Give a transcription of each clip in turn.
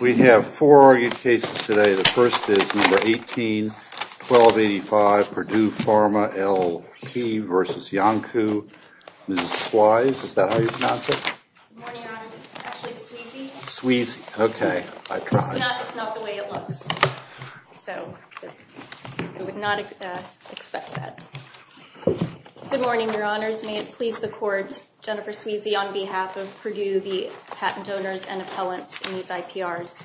We have four argued cases today. The first is number 18-1285, Purdue Pharma L.P. v. Iancu. Mrs. Swise, is that how you pronounce it? Good morning, your honors. It's actually Sweezy. Sweezy, okay. I tried. It's not the way it looks. I would not expect that. Good morning, your honors. May it please the court, Jennifer Sweezy on behalf of Purdue, the patent donors and appellants in these IPRs.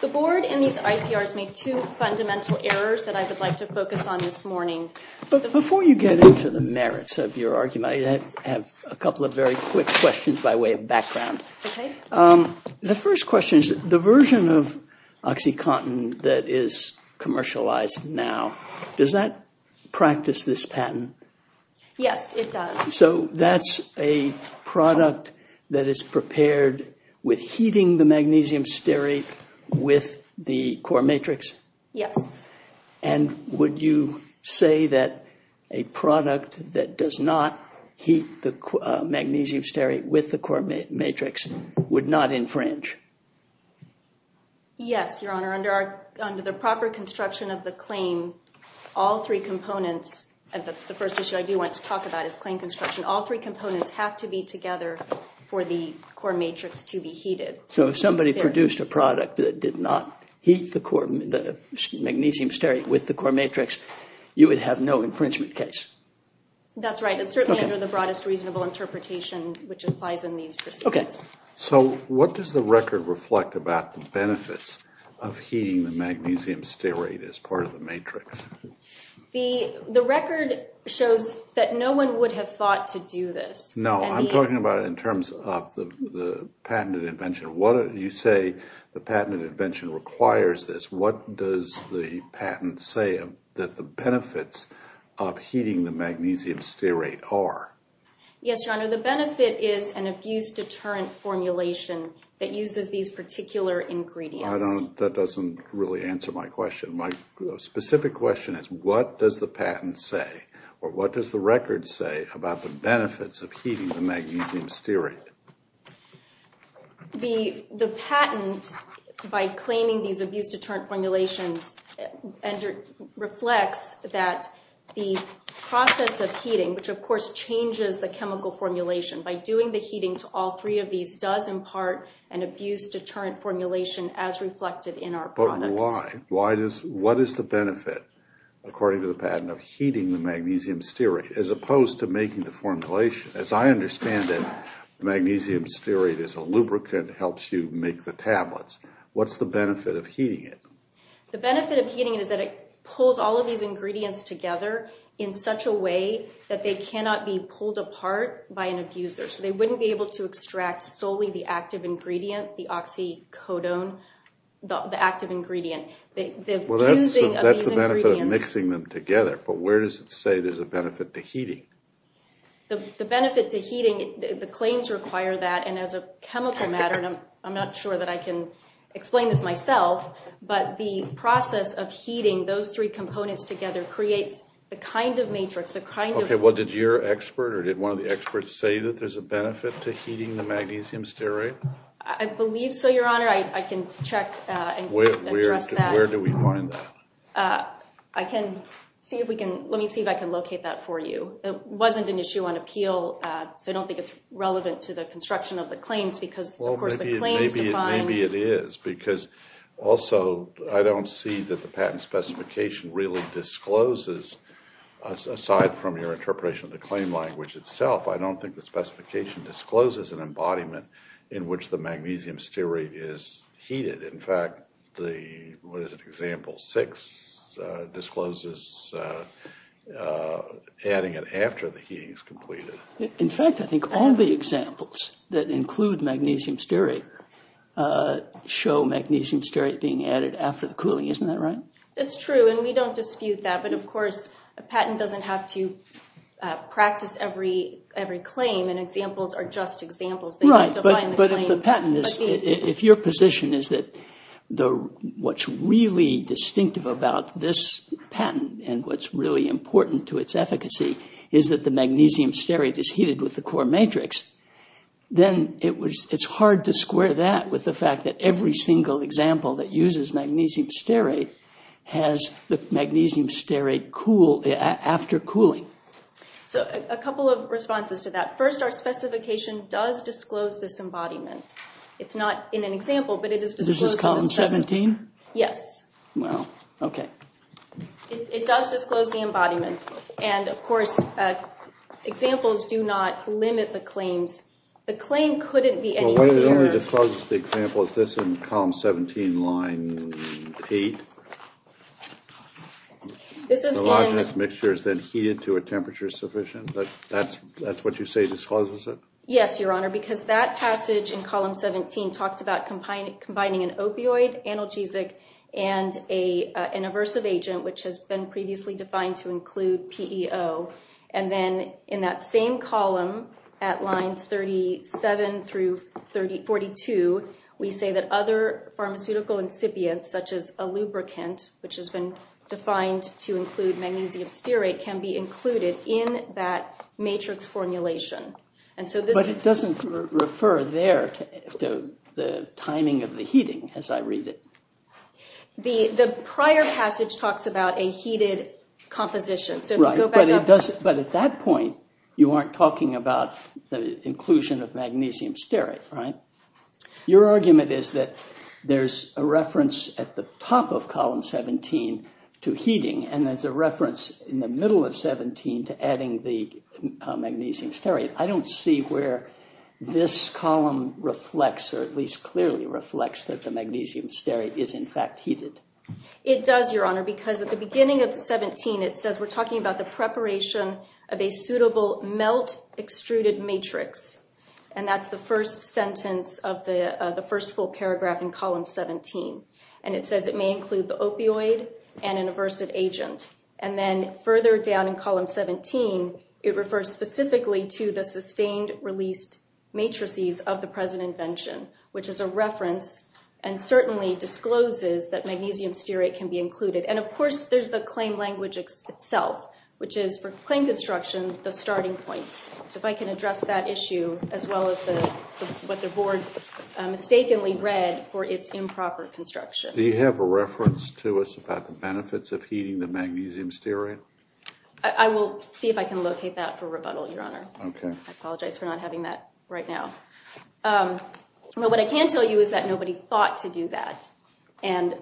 The board in these IPRs made two fundamental errors that I would like to focus on this morning. Before you get into the merits of your argument, I have a couple of very quick questions by way of background. The first question is the version of OxyContin that is commercialized now, does that practice this patent? Yes, it does. So that's a product that is prepared with heating the magnesium stearate with the core matrix? Yes. And would you say that a product that does not heat the magnesium stearate with the core matrix would not infringe? Yes, your honor. Under the proper construction of the claim, all three components, and that's the first issue I do want to talk about is claim construction, all three components have to be together for the core matrix to be heated. So if somebody produced a product that did not heat the magnesium stearate with the core matrix, you would have no infringement case? That's right. It's certainly under the broadest reasonable interpretation which applies in these proceedings. So what does the record reflect about the benefits of heating the magnesium stearate as part of the patent? The record shows that no one would have thought to do this. No, I'm talking about it in terms of the patented invention. You say the patented invention requires this. What does the patent say that the benefits of heating the magnesium stearate are? Yes, your honor. The benefit is an abuse deterrent formulation that uses these particular ingredients. That doesn't really answer my question. My specific question is what does the patent say or what does the record say about the benefits of heating the magnesium stearate? The patent, by claiming these abuse deterrent formulations, reflects that the process of heating, which of course changes the chemical formulation, by doing the heating to all three of these does impart an abuse deterrent formulation as reflected in our product. But why? What is the benefit, according to the patent, of heating the magnesium stearate as opposed to making the formulation? As I understand it, magnesium stearate is a lubricant that helps you make the tablets. What's the benefit of heating it? The benefit of heating it is that it pulls all of these ingredients together in such a way that they cannot be pulled apart by an abuser. They wouldn't be able to extract solely the active ingredient, the oxycodone, the active ingredient. Well, that's the benefit of mixing them together, but where does it say there's a benefit to heating? The benefit to heating, the claims require that, and as a chemical matter, and I'm not sure that I can explain this myself, but the process of heating those three components together creates the kind of matrix, the kind of... Okay, well, did your expert or did one of the experts say that there's a benefit to heating the magnesium stearate? I believe so, Your Honor. I can check and address that. Where do we find that? I can see if we can... Let me see if I can locate that for you. It wasn't an issue on appeal, so I don't think it's relevant to the construction of the claims because, of course, the claims define... Maybe it is, because also, I don't see that the patent specification really discloses, aside from your interpretation of the claim language itself, I don't think the specification discloses an embodiment in which the magnesium stearate is heated. In fact, the... What is it? Example 6 discloses adding it after the heating is completed. In fact, I think all the examples that include magnesium stearate show magnesium stearate being added after the cooling. Isn't that right? That's true, and we don't dispute that, but, of course, a patent doesn't have to practice every claim, and examples are just examples. Right, but if your position is that what's really distinctive about this patent and what's really important to its efficacy is that the magnesium stearate is heated with the core matrix, then it's hard to square that with the fact that every single example that uses magnesium stearate has the magnesium stearate after the cooling. So, a couple of responses to that. First, our specification does disclose this embodiment. It's not in an example, but it is disclosed in the specification. Is this just column 17? Yes. Wow. Okay. It does disclose the embodiment, and, of course, examples do not limit the claims. The claim couldn't be anywhere near... Well, when it only discloses the example, is this in column 17 line 8? This is given... The logenous mixture is then heated to a temperature sufficient? That's what you say discloses it? Yes, Your Honor, because that passage in column 17 talks about combining an opioid, analgesic, and an aversive agent, which has been previously defined to include PEO. And then, in that same column at lines 37 through 42, we say that other pharmaceutical incipients, such as a lubricant, which has been defined to include magnesium stearate, can be included in that matrix formulation. But it doesn't refer there to the timing of the heating, as I read it. The prior passage talks about a heated composition. Right, but at that point, you aren't talking about the inclusion of magnesium stearate, right? Your reference at the top of column 17 to heating, and as a reference in the middle of 17 to adding the magnesium stearate, I don't see where this column reflects, or at least clearly reflects that the magnesium stearate is in fact heated. It does, Your Honor, because at the beginning of 17, it says we're talking about the preparation of a suitable melt-extruded matrix. And that's the first sentence of the 18. And it says it may include the opioid and an aversive agent. And then further down in column 17, it refers specifically to the sustained-released matrices of the present invention, which is a reference and certainly discloses that magnesium stearate can be included. And of course, there's the claim language itself, which is for claim construction the starting point. So if I can address that issue, as well as what the Board mistakenly read for its improper construction. Do you have a reference to us about the benefits of heating the magnesium stearate? I will see if I can locate that for rebuttal, Your Honor. Okay. I apologize for not having that right now. What I can tell you is that nobody thought to do that. And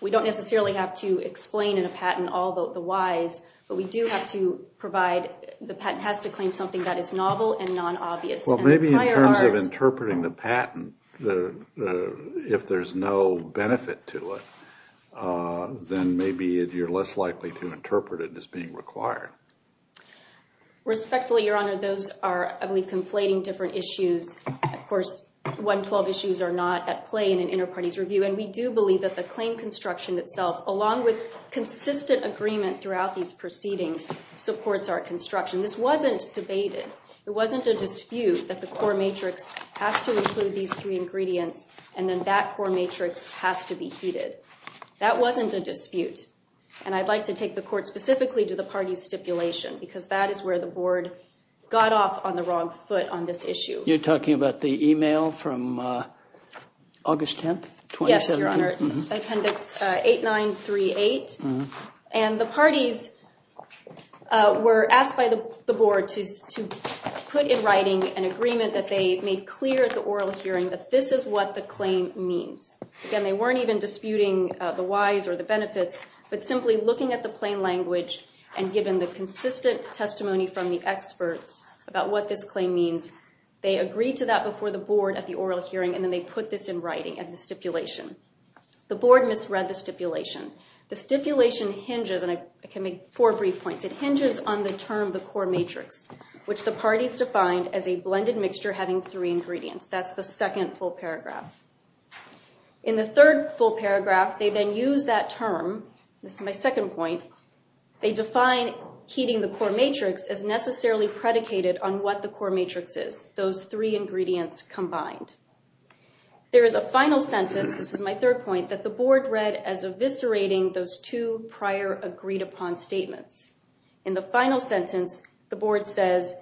we don't necessarily have to explain in a patent all the whys, but we do have to provide, the patent has to claim something that is novel and non-obvious. Well, maybe in terms of interpreting the patent, if there's no benefit to it, then maybe you're less likely to interpret it as being required. Respectfully, Your Honor, those are I believe, conflating different issues. Of course, 112 issues are not at play in an inter-parties review, and we do believe that the claim construction itself, along with consistent agreement throughout these proceedings, supports our construction. This wasn't debated. It wasn't a dispute that the core matrix has to include these three ingredients, and then that core matrix has to be heeded. That wasn't a dispute. And I'd like to take the Court specifically to the parties' stipulation, because that is where the Board got off on the wrong foot on this issue. You're talking about the email from August 10th, 2017? Yes, Your Honor. Appendix 8938. And the parties were asked by the Board to put in writing an agreement that they made clear at the oral hearing that this is what the claim means. Again, they weren't even disputing the whys or the benefits, but simply looking at the plain language, and given the consistent testimony from the experts about what this claim means, they agreed to that before the Board at the oral hearing, and then they put this in writing at the stipulation. The Board misread the stipulation. The stipulation hinges, and I can make four brief points, it hinges on the term, the core matrix, which the parties defined as a blended mixture having three ingredients. That's the second full paragraph. In the third full paragraph, they then use that term, this is my second point, they define heeding the core matrix as necessarily predicated on what the core matrix is, those three ingredients combined. There is a final sentence, this is my third point, that the Board read as eviscerating those two prior agreed upon statements. In the final sentence, the Board says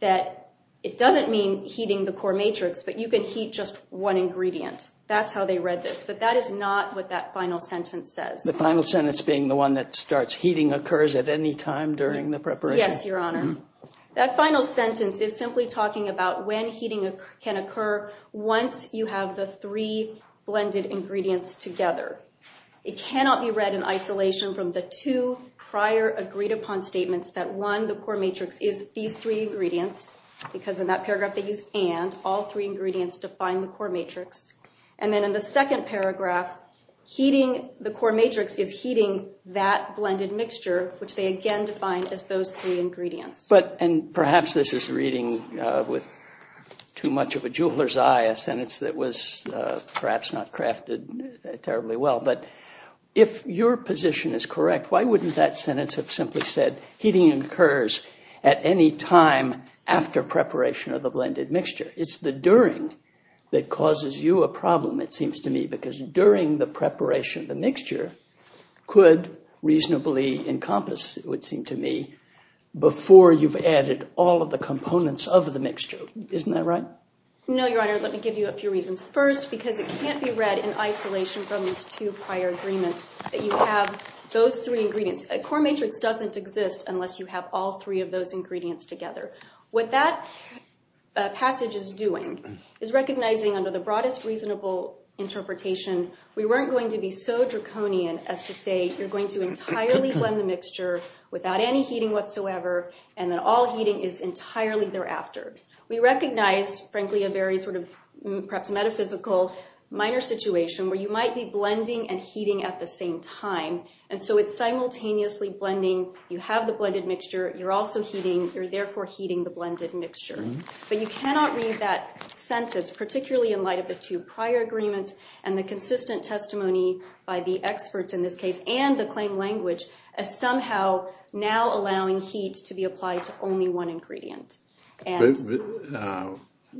that it doesn't mean heeding the core matrix, but you can heed just one ingredient. That's how they read this, but that is not what that final sentence says. The final sentence being the one that starts, heeding occurs at any time during the preparation? Yes, Your Honor. That final sentence is simply talking about when heeding can occur once you have the three blended ingredients together. It cannot be read in isolation from the two prior agreed upon statements that one, the core matrix is these three ingredients, because in that paragraph they use and, all three ingredients define the core matrix. And then in the second paragraph, heeding the core matrix is heeding that blended mixture, which they again define as those three ingredients. And perhaps this is reading with too much of a jeweler's eye, a sentence that was perhaps not crafted terribly well, but if your position is correct, why wouldn't that sentence have simply said heeding occurs at any time after preparation of the blended mixture? It's the during that causes you a problem, it seems to me, because during the preparation reasonably encompass, it would seem to me, before you've added all of the components of the mixture. Isn't that right? No, Your Honor. Let me give you a few reasons. First, because it can't be read in isolation from these two prior agreements that you have those three ingredients. A core matrix doesn't exist unless you have all three of those ingredients together. What that passage is doing is recognizing under the broadest reasonable interpretation, we weren't going to be so draconian as to say, you're going to entirely blend the mixture without any heeding whatsoever, and that all heeding is entirely thereafter. We recognized, frankly, a very sort of, perhaps metaphysical, minor situation where you might be blending and heeding at the same time, and so it's simultaneously blending, you have the blended mixture, you're also heeding, you're therefore heeding the blended mixture. But you cannot read that sentence, particularly in light of the two prior agreements and the consistent testimony by the experts in this case and the claim language, as somehow now allowing heat to be applied to only one ingredient.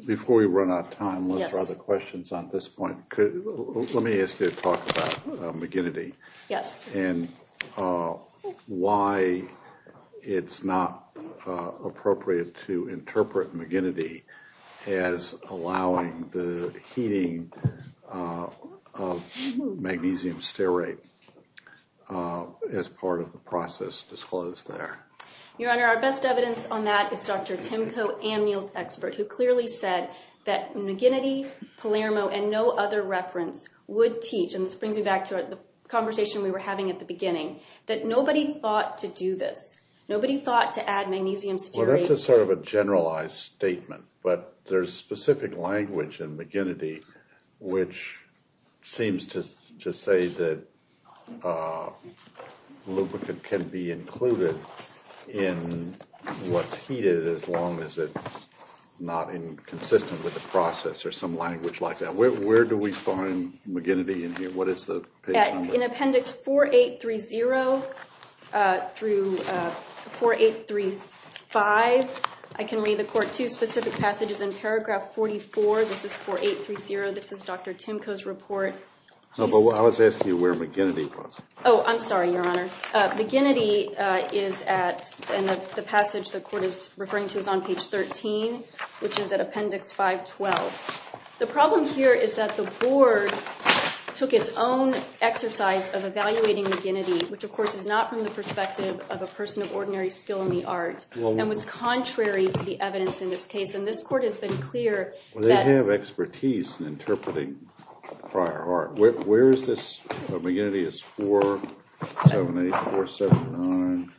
Before we run out of time, let's try the questions on this point. Let me ask you to talk about McGinnity and why it's not appropriate to interpret McGinnity as allowing the heeding of magnesium stearate as part of the process disclosed there. Your Honor, our best evidence on that is Dr. Timko Amniel's expert, who clearly said that McGinnity, Palermo, and no other reference would teach, and this brings me back to the conversation we were having at the beginning, that nobody thought to do this. Nobody thought to add magnesium stearate. Well, that's just sort of a generalized statement, but there's specific language in McGinnity which seems to say that lubricant can be included in what's heated as long as it's not inconsistent with the process, or some language like that. Where do we find McGinnity in here? What is the page number? In appendix 4830 through 4835, I can read the Court two specific passages in paragraph 44. This is 4830. This is Dr. Timko's report. No, but I was asking you where McGinnity was. Oh, I'm sorry, Your Honor. McGinnity is at in the passage the Court is referring to is on page 13, which is at appendix 512. The problem here is that the Board took its own exercise of evaluating McGinnity, which of course is not from the perspective of a person of ordinary skill in the art, and was contrary to the evidence in this case, and this Court has been clear They have expertise in interpreting prior art. Where is this? McGinnity is 478, 479.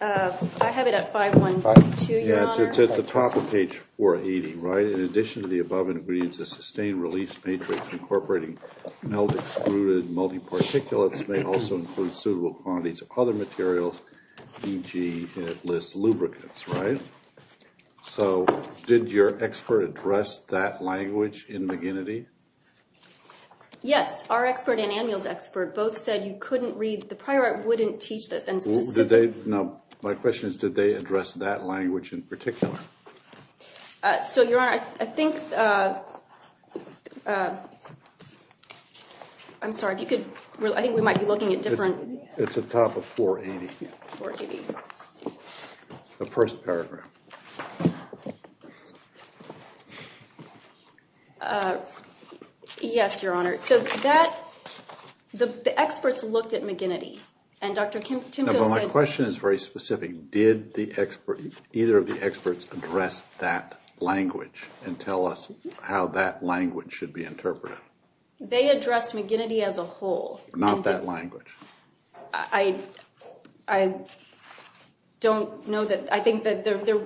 I have it at 512, Your Honor. It's at the top of page 480, right? In addition to the above ingredients, the sustained release matrix incorporating melt-excluded multi-particulates may also include suitable quantities of other materials, e.g. lubricants, right? So, did your expert address that language in McGinnity? Yes, our expert and Anmuel's expert both said you couldn't read the prior art wouldn't teach this. Now, my question is, did they address that language in particular? So, Your Honor, I think I'm sorry, if you could I think we might be looking at different... It's at the top of 480. 480. The first paragraph. Yes, Your Honor. So, that... The experts looked at McGinnity and Dr. Timko said... My question is very specific. Did the expert either of the experts address that language and tell us how that language should be interpreted? They addressed McGinnity as a whole. Not that language. I don't know that... I think that their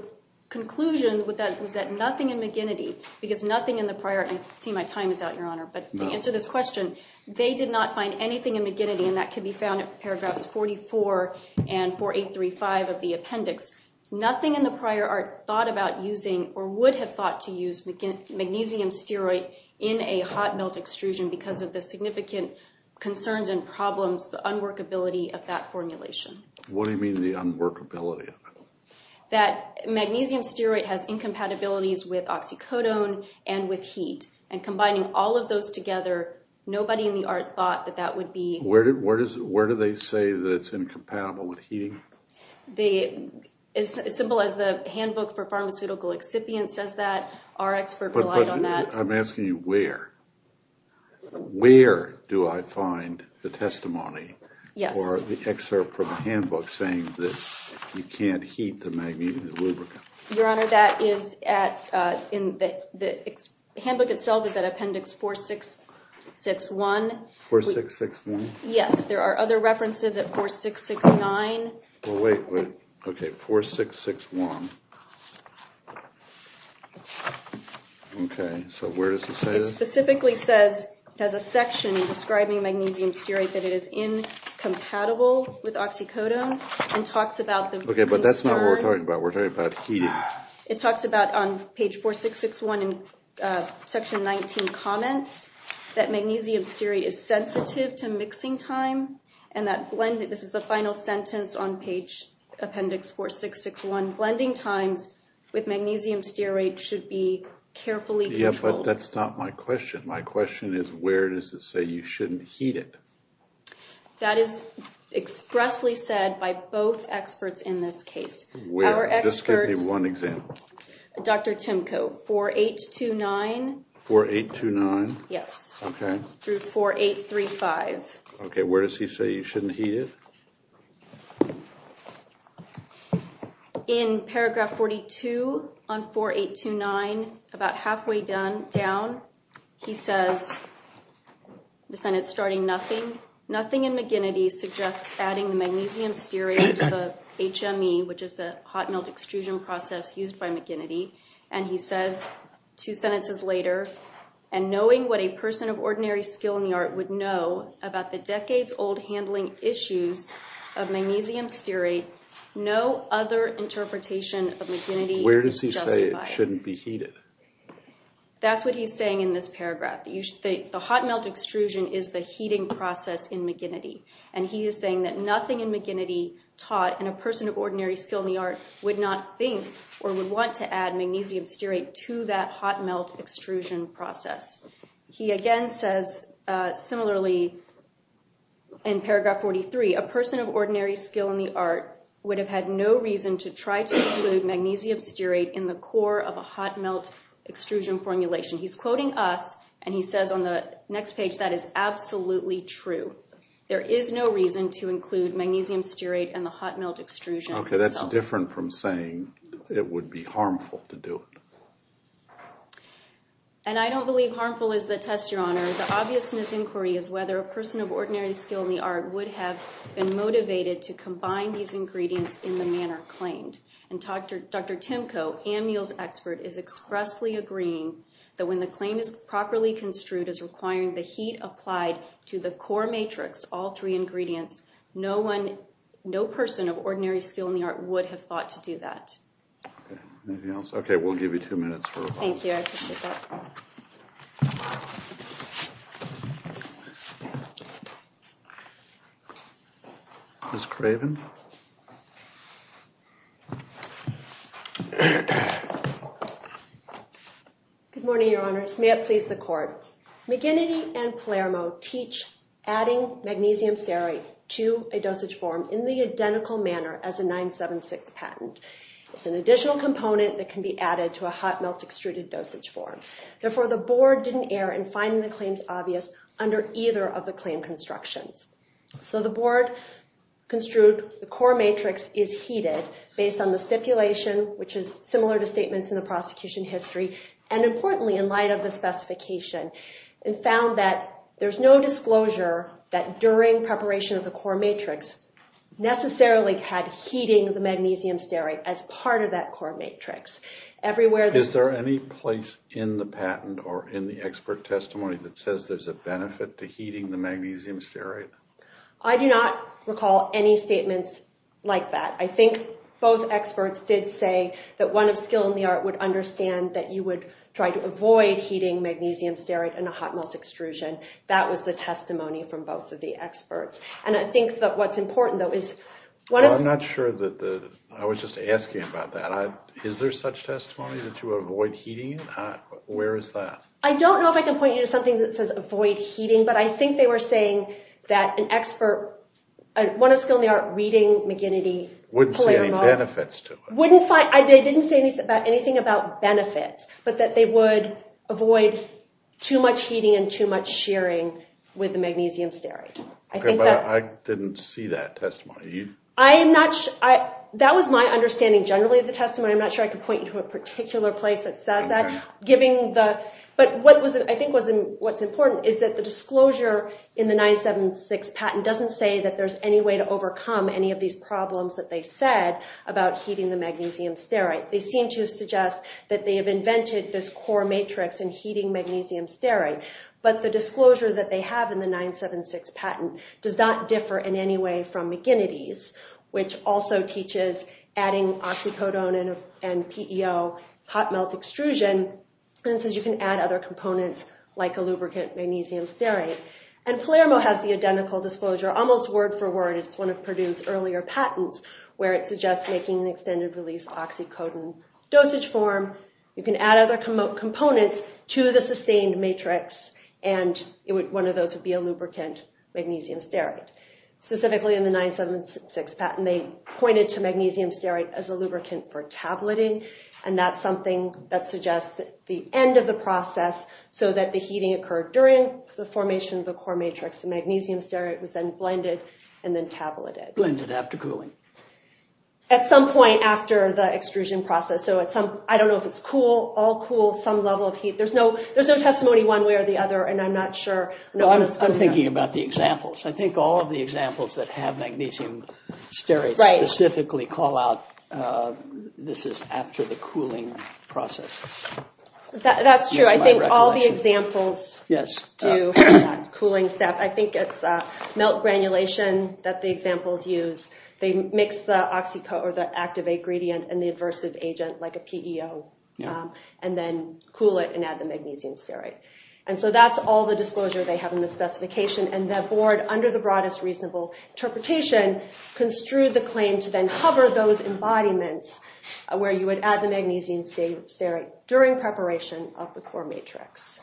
conclusion was that nothing in McGinnity, because nothing in the prior art See, my time is out, Your Honor, but to answer this question, they did not find anything in McGinnity and that can be found in paragraphs 44 and 4835 of the appendix. Nothing in the prior art thought about using or would have thought to use magnesium steroid in a hot melt extrusion because of the significant concerns and problems, the unworkability of that formulation. What do you mean the unworkability of it? That magnesium steroid has incompatibilities with oxycodone and with heat. And combining all of those together, nobody in the art thought that that would be... Where do they say that it's incompatible with heating? They... As simple as the handbook for pharmaceutical excipient says that, our expert relied on that. I'm asking you where? Where do I find the testimony or the excerpt from the handbook saying that you can't heat the magnesium lubricant? Your Honor, that is at in the... The handbook itself is at appendix 4661 4661? Yes, there are other references at 4669 Well, wait, wait. Okay, 4661 Okay. So where does it say that? It specifically says, it has a section describing magnesium steroid that it is incompatible with oxycodone and talks about the concern... Okay, but that's not what we're talking about. We're talking about heating. It talks about on page 4661 in section 19 comments that magnesium steroid is sensitive to mixing time and that blend... This is the final sentence on page appendix 4661. Blending times with magnesium steroid should be carefully controlled. Yeah, but that's not my question. My question is where does it say you shouldn't heat it? That is expressly said by both experts in this case. Where? Just give me one example. Dr. Timko, 4829 4829? Yes. Okay. Through 4835. Okay, where does he say you shouldn't heat it? In paragraph 42 on 4829 about halfway down he says the Senate's starting nothing. Nothing in McGinnity suggests adding magnesium steroid to the HME, which is the hot melt extrusion process used by McGinnity and he says two sentences later and knowing what a person of ordinary skill in the art would know about the decades old handling issues of magnesium steroid no other interpretation of McGinnity is justified. Where does he say it shouldn't be heated? That's what he's saying in this paragraph. The hot melt extrusion is the heating process in McGinnity and he is saying that nothing in McGinnity taught and a person of ordinary skill in the art would not think or would want to add magnesium steroid to that hot melt extrusion process. He again says similarly in paragraph 43, a person of ordinary skill in the art would have had no reason to try to include magnesium steroid in the core of a hot melt extrusion formulation. He's quoting us and he says on the next page that is absolutely true. There is no reason to include magnesium steroid in the hot melt extrusion itself. Okay, that's different from saying it would be harmful to do it. And I don't believe harmful is the test, Your Honor. The obviousness inquiry is whether a person of ordinary skill in the art would have been motivated to combine these ingredients in the manner claimed. And Dr. Tymko, Ammiel's expert, is expressly agreeing that when the claim is properly construed as requiring the heat applied to the core matrix, all three ingredients, no person of ordinary skill in the art would have thought to do that. Anything else? Okay, we'll give you two minutes for a follow-up. Ms. Craven? Good morning, Your Honor. May it please the Court. McGinnity and Palermo teach adding magnesium steroid to a dosage form in the identical manner as a 976 patent. It's an additional component that can be added to a hot melt extruded dosage form. Therefore, the Board didn't err in finding the claims obvious under either of the claim constructions. So the Board construed the core matrix is heated based on the stipulation, which is similar to statements in the prosecution history, and importantly, in light of the specification, and found that there's no disclosure that during preparation of the core matrix necessarily had heating the magnesium steroid as part of that core matrix. Is there any place in the patent or in the expert testimony that says there's a benefit to heating the magnesium steroid? I do not recall any statements like that. I think both experts did say that one of skill in the art would understand that you would try to avoid heating magnesium steroid in a hot melt extrusion. That was the testimony from both of the experts. And I think that what's important, though, is... I'm not sure that the... I was just asking about that. Is there such testimony that you avoid heating it? Where is that? I don't know if I can point you to something that says avoid heating, but I think they were saying that an expert, one of skill in the art, reading McGinnity... Wouldn't see any benefits to it. They didn't say anything about benefits, but that they would avoid too much heating and too much shearing with the magnesium steroid. Okay, but I didn't see that testimony. I am not sure... That was my understanding generally of the testimony. I'm not sure I could point you to a particular place that says that. But I think what's important is that the disclosure in the 976 patent doesn't say that there's any way to overcome any of these problems that they said about heating the magnesium steroid. They seem to suggest that they have invented this core matrix in heating magnesium steroid, but the disclosure that they have in the 976 patent does not differ in any way from McGinnity's, which also teaches adding oxycodone and PEO hot melt extrusion and says you can add other components like a lubricant magnesium steroid. And Palermo has the identical disclosure, almost word for word. It's one of Purdue's earlier patents where it suggests making an extended release oxycodone dosage form. You can add other components to the sustained matrix and one of those would be a lubricant magnesium steroid. Specifically in the 976 patent, they pointed to magnesium steroid as a lubricant for tableting and that's something that suggests the end of the process so that the heating occurred during the formation of the core matrix. The magnesium steroid was then blended and then tableted. Blended after cooling. At some point after the extrusion process. So at some, I don't know if it's cool, all cool, some level of heat. There's no testimony one way or the other and I'm not sure. I'm thinking about the examples. I think all of the examples that have magnesium steroids specifically call out this is after the cooling process. That's true. I think all the examples do that cooling step. I think it's melt granulation that the examples use. They mix the oxycodone or the activate gradient and the aversive agent like a PEO and then cool it and add the magnesium steroid. That's all the disclosure they have in the specification and the board under the broadest reasonable interpretation construed the claim to then cover those embodiments where you would add the magnesium steroid during preparation of the core matrix.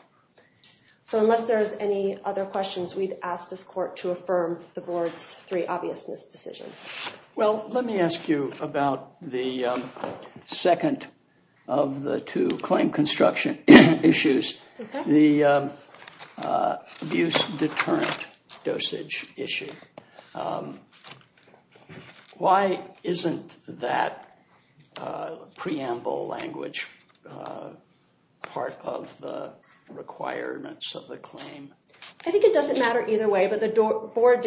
Unless there's any other questions, we'd ask this court to affirm the board's three obviousness decisions. Let me ask you about the second of the two claim construction issues. The abuse deterrent dosage issue. Why isn't that preamble language part of the requirements of the claim? I think it doesn't matter either way, but the board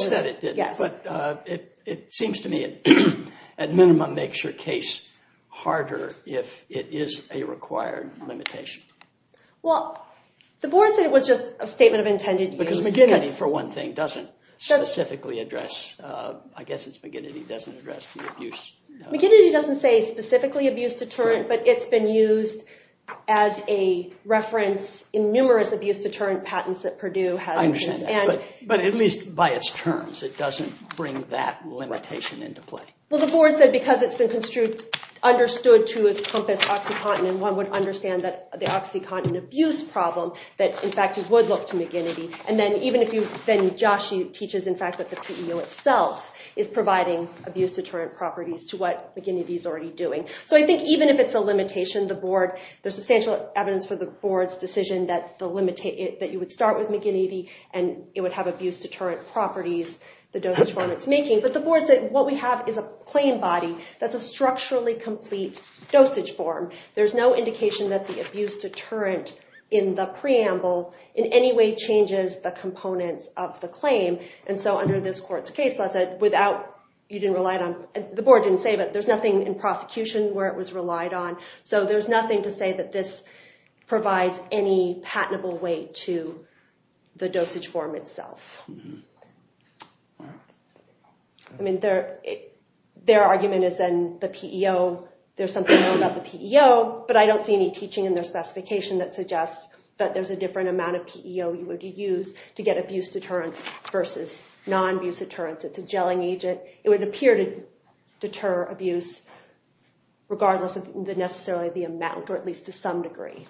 said it didn't. It seems to me at minimum makes your case harder if it is a required limitation. The board said it was just a statement of intended use. Because McGinnity for one thing doesn't specifically address I guess it's McGinnity doesn't address the abuse. McGinnity doesn't say specifically abuse deterrent, but it's been used as a reference in numerous abuse deterrent patents that Purdue has. But at least by its terms it doesn't bring that limitation into play. Well the board said because it's been understood to encompass OxyContin and one would understand that the OxyContin abuse problem that in fact it would look to McGinnity and then even if you then Josh teaches in fact that the PEO itself is providing abuse deterrent properties to what McGinnity is already doing. So I think even if it's a limitation, the board there's substantial evidence for the board's decision that you would start with McGinnity and it would have abuse deterrent properties the dosage form it's making. But the board said what we have is a claim body that's a structurally complete dosage form. There's no indication that the abuse deterrent in the preamble in any way changes the components of the claim. And so under this court's case without you didn't rely on the board didn't say that there's nothing in prosecution where it was relied on. So there's nothing to say that this provides any patentable way to the dosage form itself. Their argument is then the PEO, there's something about the PEO, but I don't see any teaching in their specification that suggests that there's a different amount of PEO you would use to get abuse deterrents versus non-abuse deterrents. It's a gelling agent. It would appear to deter abuse regardless of necessarily the amount or at least to some degree.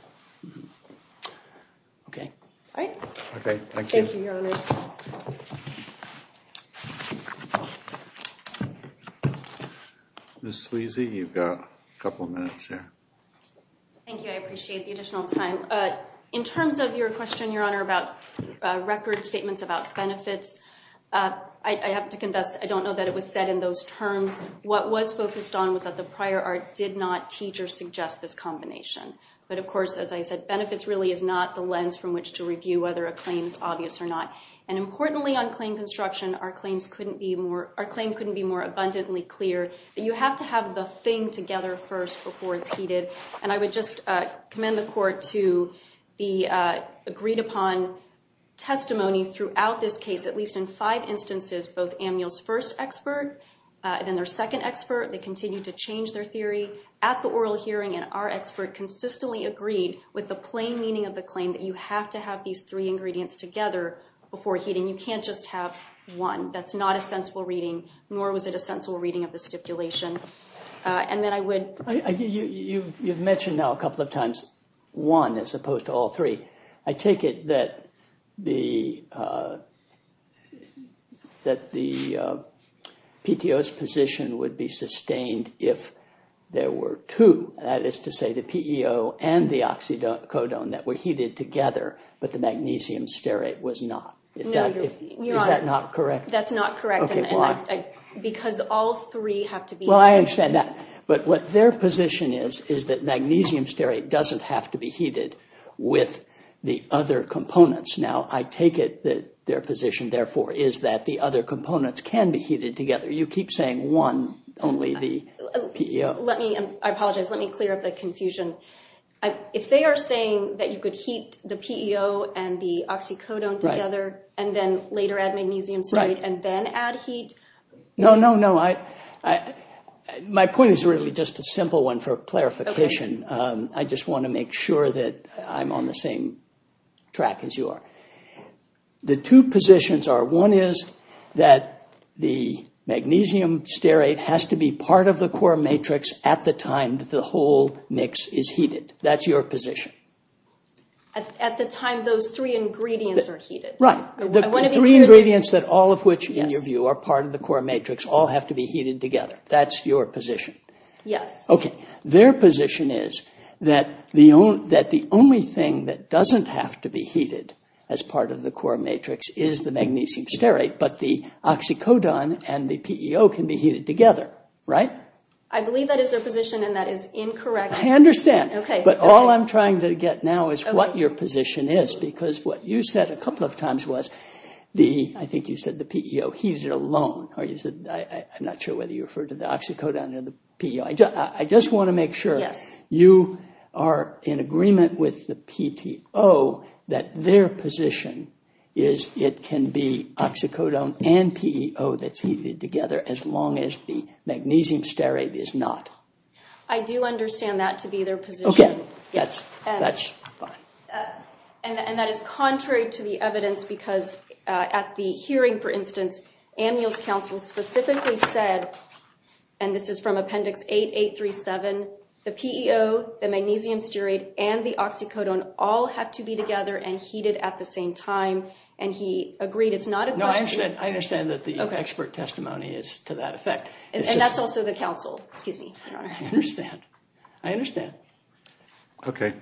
Okay. Thank you, Your Honor. Ms. Sweezy, you've got a couple of minutes here. Thank you. I appreciate the additional time. In terms of your question, Your Honor, about record statements about benefits, I have to confess I don't know that it was said in those terms. What was focused on was that the prior art did not teach or suggest this combination. But of course, as I said, benefits really is not the lens from which to review whether a claim is obvious or not. And importantly, on claim construction, our claims couldn't be more abundantly clear that you have to have the thing together first before it's heated. And I would just commend the Court to the agreed upon testimony throughout this case, at least in five instances, both Ammuel's first expert and then their second expert, they continued to change their theory at the oral hearing, and our expert consistently agreed with the plain meaning of the claim that you have to have these three ingredients together before heating. You can't just have one. That's not a sensible reading, nor was it a sensible reading of the stipulation. You've mentioned now a couple of times one as opposed to all three. I take it that the PTO's position would be sustained if there were two, that is to say the PEO and the oxycodone that were heated together, but the magnesium stearate was not. Is that not correct? That's not correct. Because all three have to be heated. Well, I understand that, but what their position is, is that magnesium stearate doesn't have to be heated with the other components. Now, I take it that their position, therefore, is that the other components can be heated together. You keep saying one, only the PEO. I apologize. Let me clear up the confusion. If they are saying that you could heat the PEO and the oxycodone together and then later add magnesium stearate and then add heat... No, no, no. My point is really just a simple one for clarification. I just want to make sure that I'm on the same track as you are. The two positions are, one is that the magnesium stearate has to be part of the core matrix at the time the whole mix is heated. That's your position. At the time those three ingredients are heated. Right. The three ingredients, all of which, in your view, are part of the core matrix, all have to be heated together. That's your position. Yes. Okay. Their position is that the only thing that doesn't have to be heated as part of the core matrix is the magnesium stearate, but the oxycodone and the PEO can be heated together. Right? I believe that is their position and that is incorrect. I understand. Okay. But all I'm trying to get now is what your position is because what you said a couple of times was the... I think you said the PEO heated alone or you said... I'm not sure whether you referred to the oxycodone or the PEO. I just want to make sure you are in agreement with the PTO that their position is it can be oxycodone and PEO that's heated together as long as the magnesium stearate is not. I do understand that to be their position. Okay. That's fine. And that is contrary to the evidence because at the hearing, for instance, Amnial's Council specifically said, and this is from Appendix 8. 837, the PEO, the magnesium stearate, and the oxycodone all have to be together and heated at the same time and he agreed it's not a question... No, I understand. I understand that the expert testimony is to that effect. And that's also the Council. Excuse me, Your Honor. I understand. I understand. Okay.